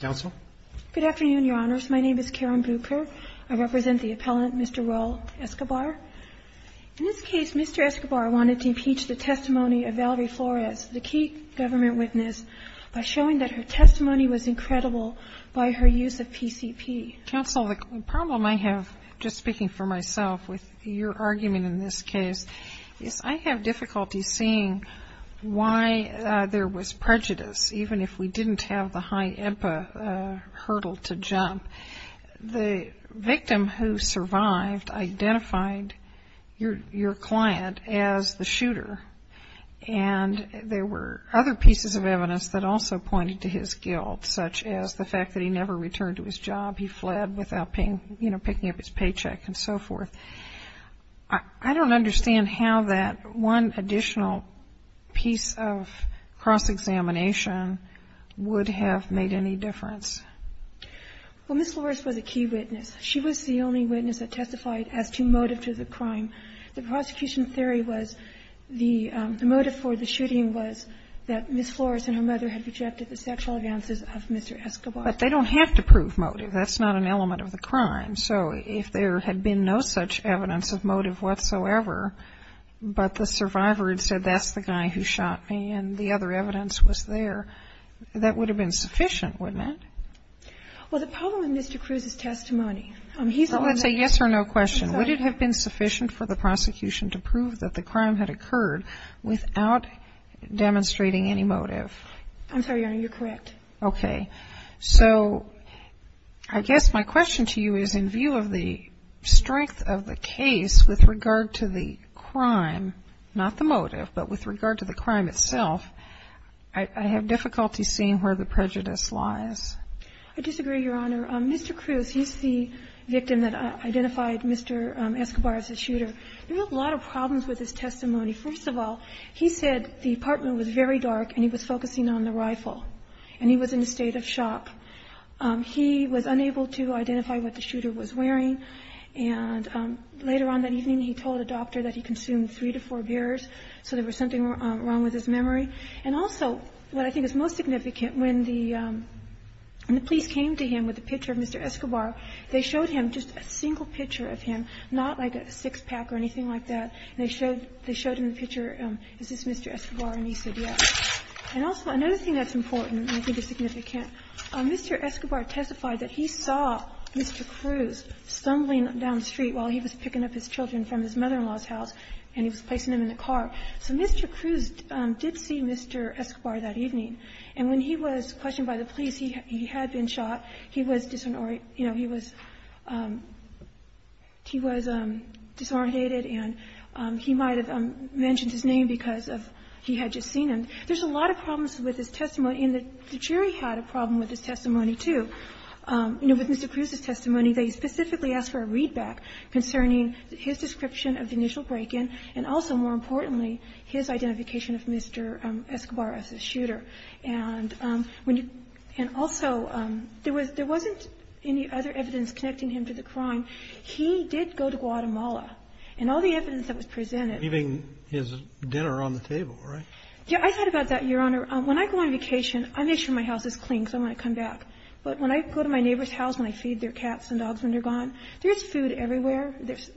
Good afternoon, Your Honors. My name is Karen Bucher. I represent the appellant, Mr. Roel Escobar. In this case, Mr. Escobar wanted to impeach the testimony of Valerie Flores, the key government witness, by showing that her testimony was incredible by her use of PCP. Counsel, the problem I have, just speaking for myself, with your argument in this case, is I have difficulty seeing why there was prejudice, even if we didn't have the high EMPA hurdle to jump. The victim who survived identified your client as the shooter, and there were other pieces of evidence that also pointed to his guilt, such as the fact that he never returned to his job. He fled without picking up his paycheck and so forth. I don't understand how that one additional piece of cross-examination would have made any difference. Well, Ms. Flores was a key witness. She was the only witness that testified as to motive to the crime. The prosecution theory was the motive for the shooting was that Ms. Flores and her mother had rejected the sexual advances of Mr. Escobar. But they don't have to prove motive. That's not an element of the crime. So if there had been no such evidence of motive whatsoever, but the survivor had said, that's the guy who shot me, and the other evidence was there, that would have been sufficient, wouldn't it? Well, the problem with Mr. Cruz's testimony... So let's say yes or no question. Would it have been sufficient for the prosecution to prove that the crime had occurred without demonstrating any motive? I'm sorry, Your Honor, you're correct. Okay. So I guess my question to you is, in view of the strength of the case with regard to the crime, not the motive, but with regard to the crime itself, I have difficulty seeing where the prejudice lies. I disagree, Your Honor. Mr. Cruz, he's the victim that identified Mr. Escobar as the shooter. We have a lot of problems with his testimony. First of all, he said the apartment was very dark and he was focusing on the rifle. And he was in a state of shock. He was unable to identify what the shooter was wearing. And later on that evening, he told a doctor that he consumed three to four beers, so there was something wrong with his memory. And also, what I think is most significant, when the police came to him with a picture of Mr. Escobar, they showed him just a single picture of him, not like a six-pack or anything like that. And they showed him the picture, is this Mr. Escobar, and he said yes. And also, another thing that's important and I think is significant, Mr. Escobar testified that he saw Mr. Cruz stumbling down the street while he was picking up his children from his mother-in-law's house, and he was placing them in the car. So Mr. Cruz did see Mr. Escobar that evening. And when he was questioned by the police, he had been shot. He was disoriented. And he might have mentioned his name because he had just seen him. There's a lot of problems with his testimony, and the jury had a problem with his testimony too. With Mr. Cruz's testimony, they specifically asked for a readback concerning his description of the initial break-in and also, more importantly, his identification of Mr. Escobar as a shooter. And also, there wasn't any other evidence connecting him to the crime. He did go to Guatemala. And all the evidence that was presented --- Roberts. Leaving his dinner on the table, right? Yeah, I thought about that, Your Honor. When I go on vacation, I make sure my house is clean because I want to come back. But when I go to my neighbor's house and I feed their cats and dogs when they're gone, there's food everywhere. There's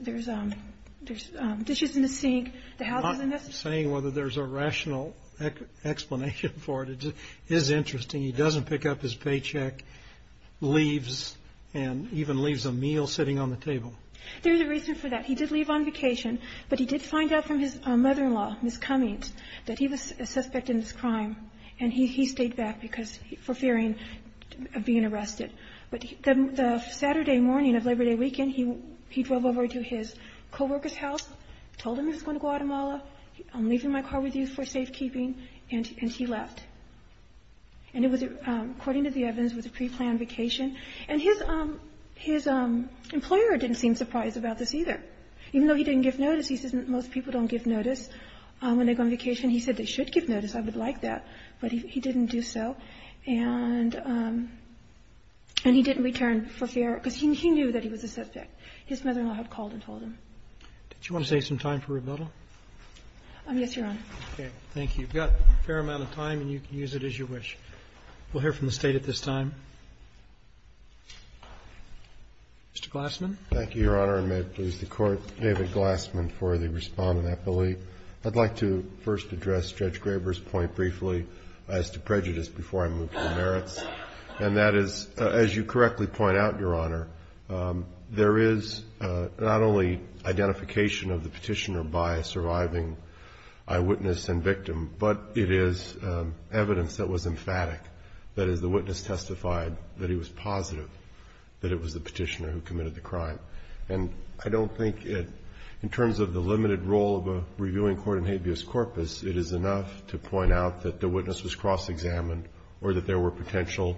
dishes in the sink. I'm not saying whether there's a rational explanation for it. It is interesting. He doesn't pick up his paycheck, leaves, and even leaves a meal sitting on the table. There's a reason for that. He did leave on vacation. But he did find out from his mother-in-law, Ms. Cummings, that he was a suspect in this crime. And he stayed back for fearing of being arrested. But the Saturday morning of Labor Day weekend, he drove over to his co-worker's house, told him he was going to Guatemala. I'm leaving my car with you for safekeeping. And he left. And it was according to the evidence, it was a preplanned vacation. And his employer didn't seem surprised about this either. Even though he didn't give notice, he says most people don't give notice when they go on vacation. He said they should give notice. I would like that. But he didn't do so. And he didn't return for fear because he knew that he was a suspect. His mother-in-law had called and told him. Did you want to take some time for rebuttal? Yes, Your Honor. Okay. Thank you. We've got a fair amount of time, and you can use it as you wish. We'll hear from the State at this time. Mr. Glassman. Thank you, Your Honor, and may it please the Court. David Glassman for the Respondent. I'd like to first address Judge Graber's point briefly as to prejudice before I move to the merits. And that is, as you correctly point out, Your Honor, there is not only identification of the petitioner by a surviving eyewitness and victim, but it is evidence that was emphatic. That is, the witness testified that he was positive that it was the petitioner who committed the crime. And I don't think in terms of the limited role of a reviewing court in habeas corpus, it is enough to point out that the witness was cross-examined or that there were potential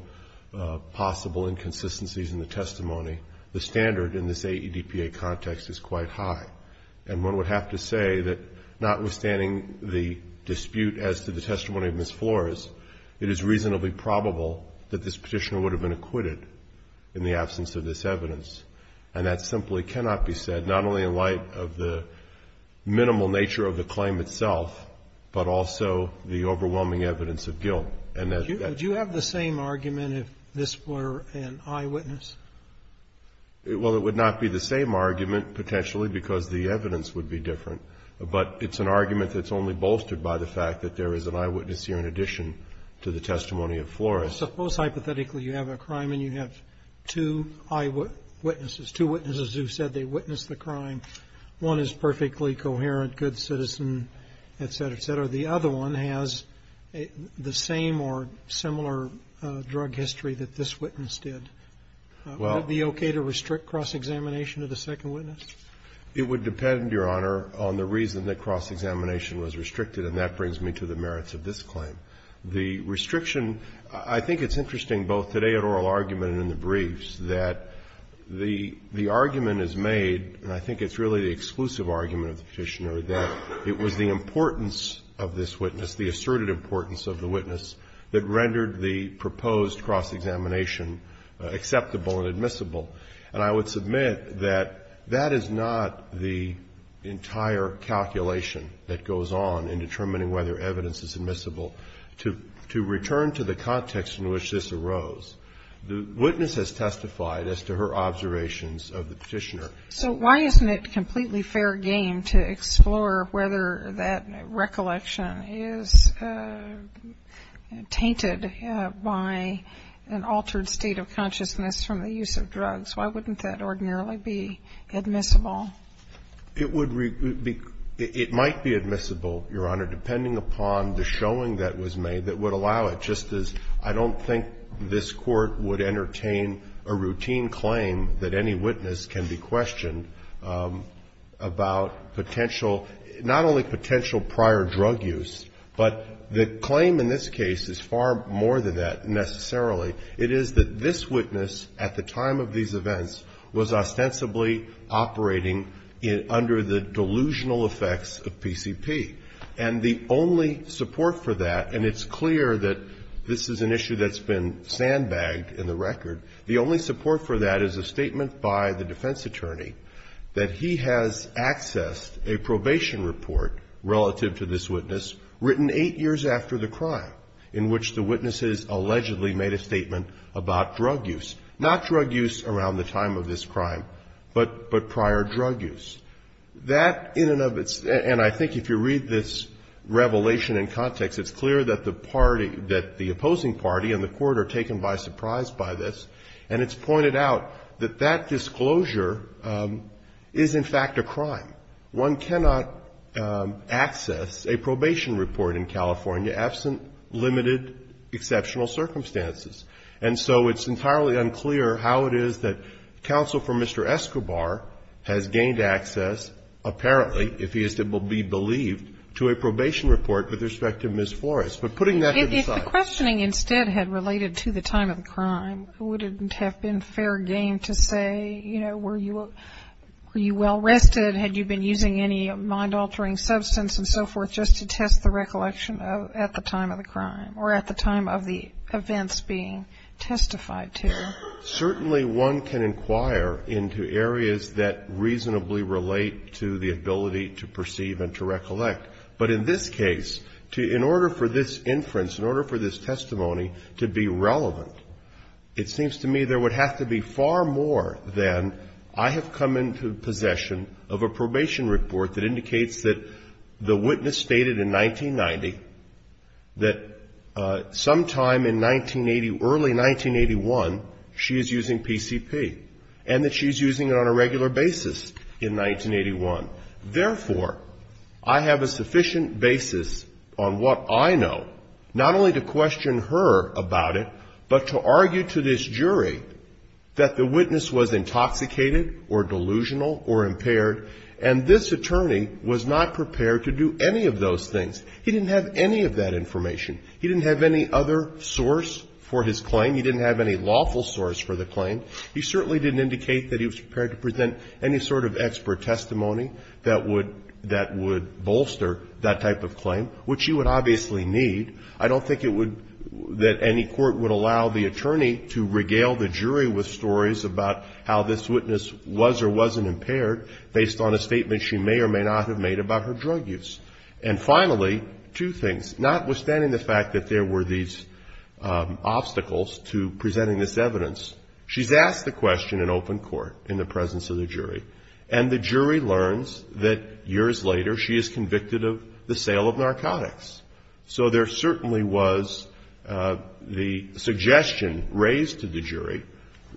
possible inconsistencies in the testimony. The standard in this AEDPA context is quite high. And one would have to say that notwithstanding the dispute as to the testimony of Ms. Flores, it is reasonably probable that this petitioner would have been acquitted in the absence of this evidence. And that simply cannot be said, not only in light of the minimal nature of the claim itself, but also the overwhelming evidence of guilt. And that's that. Do you have the same argument if this were an eyewitness? Well, it would not be the same argument, potentially, because the evidence would be different. But it's an argument that's only bolstered by the fact that there is an eyewitness here in addition to the testimony of Flores. Suppose hypothetically you have a crime and you have two eyewitnesses, two witnesses who said they witnessed the crime. One is perfectly coherent, good citizen, et cetera, et cetera. The other one has the same or similar drug history that this witness did. Would it be okay to restrict cross-examination of the second witness? It would depend, Your Honor, on the reason that cross-examination was restricted. And that brings me to the merits of this claim. The restriction, I think it's interesting both today at oral argument and in the briefs that the argument is made, and I think it's really the exclusive argument of the Petitioner, that it was the importance of this witness, the asserted importance of the witness, that rendered the proposed cross-examination acceptable and admissible. And I would submit that that is not the entire calculation that goes on in determining whether evidence is admissible. To return to the context in which this arose, the witness has testified as to her observations of the Petitioner. So why isn't it completely fair game to explore whether that recollection is tainted by an altered state of consciousness from the use of drugs? Why wouldn't that ordinarily be admissible? It would be – it might be admissible, Your Honor, depending upon the showing that was made that would allow it, just as I don't think this Court would entertain a routine claim that any witness can be questioned about potential, not only potential prior drug use, but the claim in this case is far more than that necessarily. It is that this witness at the time of these events was ostensibly operating under the delusional effects of PCP. And the only support for that, and it's clear that this is an issue that's been sandbagged in the record, the only support for that is a statement by the defense attorney that he has accessed a probation report relative to this witness written 8 years after the crime in which the witnesses allegedly made a statement about drug use, not drug use around the time of this crime, but prior drug use. That in and of its – and I think if you read this revelation in context, it's clear that the party – that the opposing party and the Court are taken by surprise by this, and it's pointed out that that disclosure is in fact a crime. One cannot access a probation report in California absent limited exceptional circumstances. And so it's entirely unclear how it is that counsel for Mr. Escobar has gained access, apparently, if he is to be believed, to a probation report with respect to Ms. Flores. But putting that to the side. If the questioning instead had related to the time of the crime, wouldn't it have been fair game to say, you know, were you well-rested? Had you been using any mind-altering substance and so forth just to test the recollection at the time of the crime or at the time of the events being testified to? Certainly one can inquire into areas that reasonably relate to the ability to perceive and to recollect. But in this case, in order for this inference, in order for this testimony to be relevant, it seems to me there would have to be far more than I have come into possession of a probation report that indicates that the witness stated in 1990 that sometime in 1980, early 1981, she is using PCP, and that she is using it on a regular basis in 1981. Therefore, I have a sufficient basis on what I know not only to question her about it, but to argue to this jury that the witness was intoxicated or delusional or impaired, and this attorney was not prepared to do any of those things. He didn't have any of that information. He didn't have any other source for his claim. He didn't have any lawful source for the claim. He certainly didn't indicate that he was prepared to present any sort of expert testimony that would bolster that type of claim, which you would obviously believe. I don't think it would, that any court would allow the attorney to regale the jury with stories about how this witness was or wasn't impaired based on a statement she may or may not have made about her drug use. And finally, two things. Notwithstanding the fact that there were these obstacles to presenting this evidence, she's asked the question in open court in the presence of the jury, and the jury learns that years later she is convicted of the sale of narcotics. So there certainly was the suggestion raised to the jury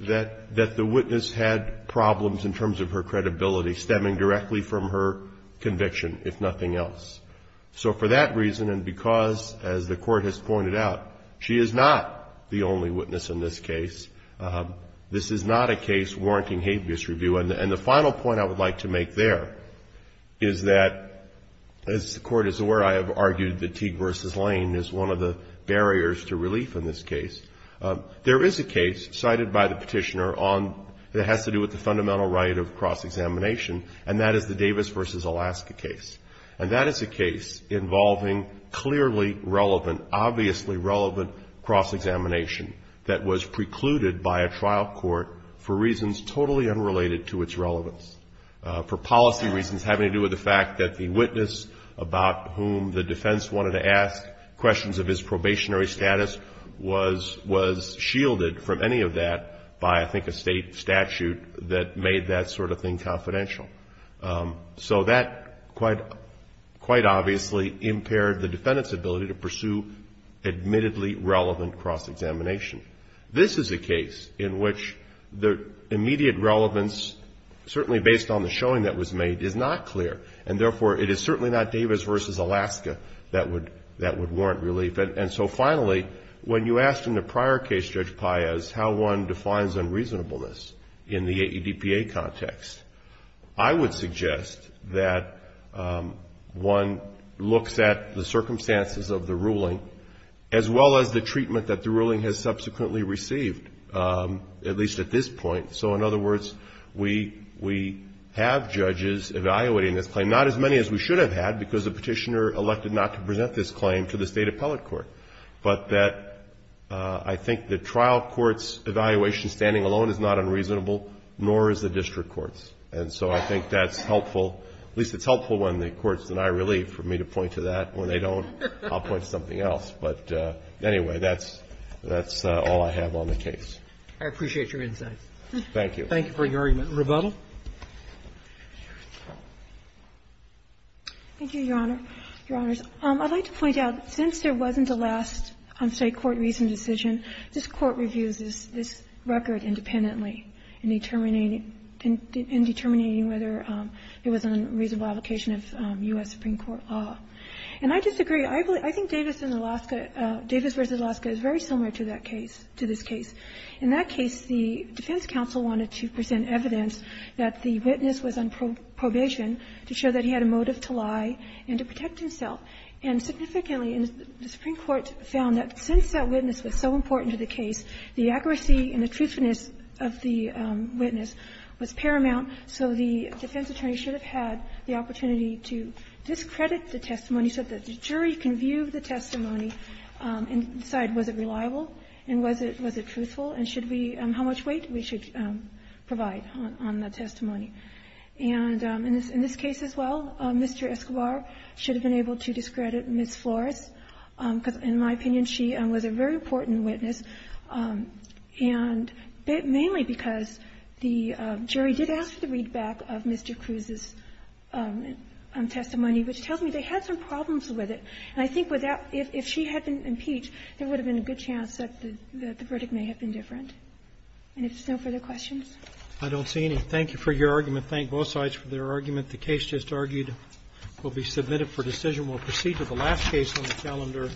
that the witness had problems in terms of her credibility stemming directly from her conviction, if nothing else. So for that reason, and because, as the Court has pointed out, she is not the only witness in this case, this is not a case warranting habeas review. And the final point I would like to make there is that, as the Court is aware, I have noted that Teague v. Lane is one of the barriers to relief in this case. There is a case cited by the Petitioner on, that has to do with the fundamental right of cross-examination, and that is the Davis v. Alaska case. And that is a case involving clearly relevant, obviously relevant cross-examination that was precluded by a trial court for reasons totally unrelated to its relevance. For policy reasons having to do with the fact that the witness about whom the defense wanted to ask questions of his probationary status was shielded from any of that by, I think, a state statute that made that sort of thing confidential. So that quite obviously impaired the defendant's ability to pursue admittedly relevant cross-examination. This is a case in which the immediate relevance, certainly based on the showing that was made, is not clear. And therefore, it is certainly not Davis v. Alaska that would warrant relief. And so finally, when you asked in the prior case, Judge Paez, how one defines unreasonableness in the AEDPA context, I would suggest that one looks at the circumstances of the ruling, as well as the treatment that the ruling has subsequently received, at least at this point. So in other words, we have judges evaluating this claim. Not as many as we should have had, because the petitioner elected not to present this claim to the State Appellate Court. But that I think the trial court's evaluation standing alone is not unreasonable, nor is the district court's. And so I think that's helpful. At least it's helpful when the courts deny relief, for me to point to that. When they don't, I'll point to something else. But anyway, that's all I have on the case. Roberts. I appreciate your insights. Thank you. Thank you for your argument. Rebuttal. Thank you, Your Honor. Your Honors. I'd like to point out, since there wasn't a last, say, court-reasoned decision, this Court reviews this record independently in determining whether it was a reasonable application of U.S. Supreme Court law. And I disagree. I think Davis v. Alaska is very similar to that case, to this case. In that case, the defense counsel wanted to present evidence that the witness was on probation to show that he had a motive to lie and to protect himself. And significantly, the Supreme Court found that since that witness was so important to the case, the accuracy and the truthfulness of the witness was paramount. So the defense attorney should have had the opportunity to discredit the testimony so that the jury can view the testimony and decide, was it reliable and was it truthful, and should we – how much weight we should provide on the testimony. And in this case as well, Mr. Escobar should have been able to discredit Ms. Flores because, in my opinion, she was a very important witness, and mainly because the jury did ask for the readback of Mr. Cruz's testimony, which tells me they had some problems with it. And I think without – if she had been impeached, there would have been a good chance that the verdict may have been different. And if there's no further questions? Roberts. I don't see any. Thank you for your argument. Thank both sides for their argument. The case just argued will be submitted for decision. We'll proceed to the last case on the calendar.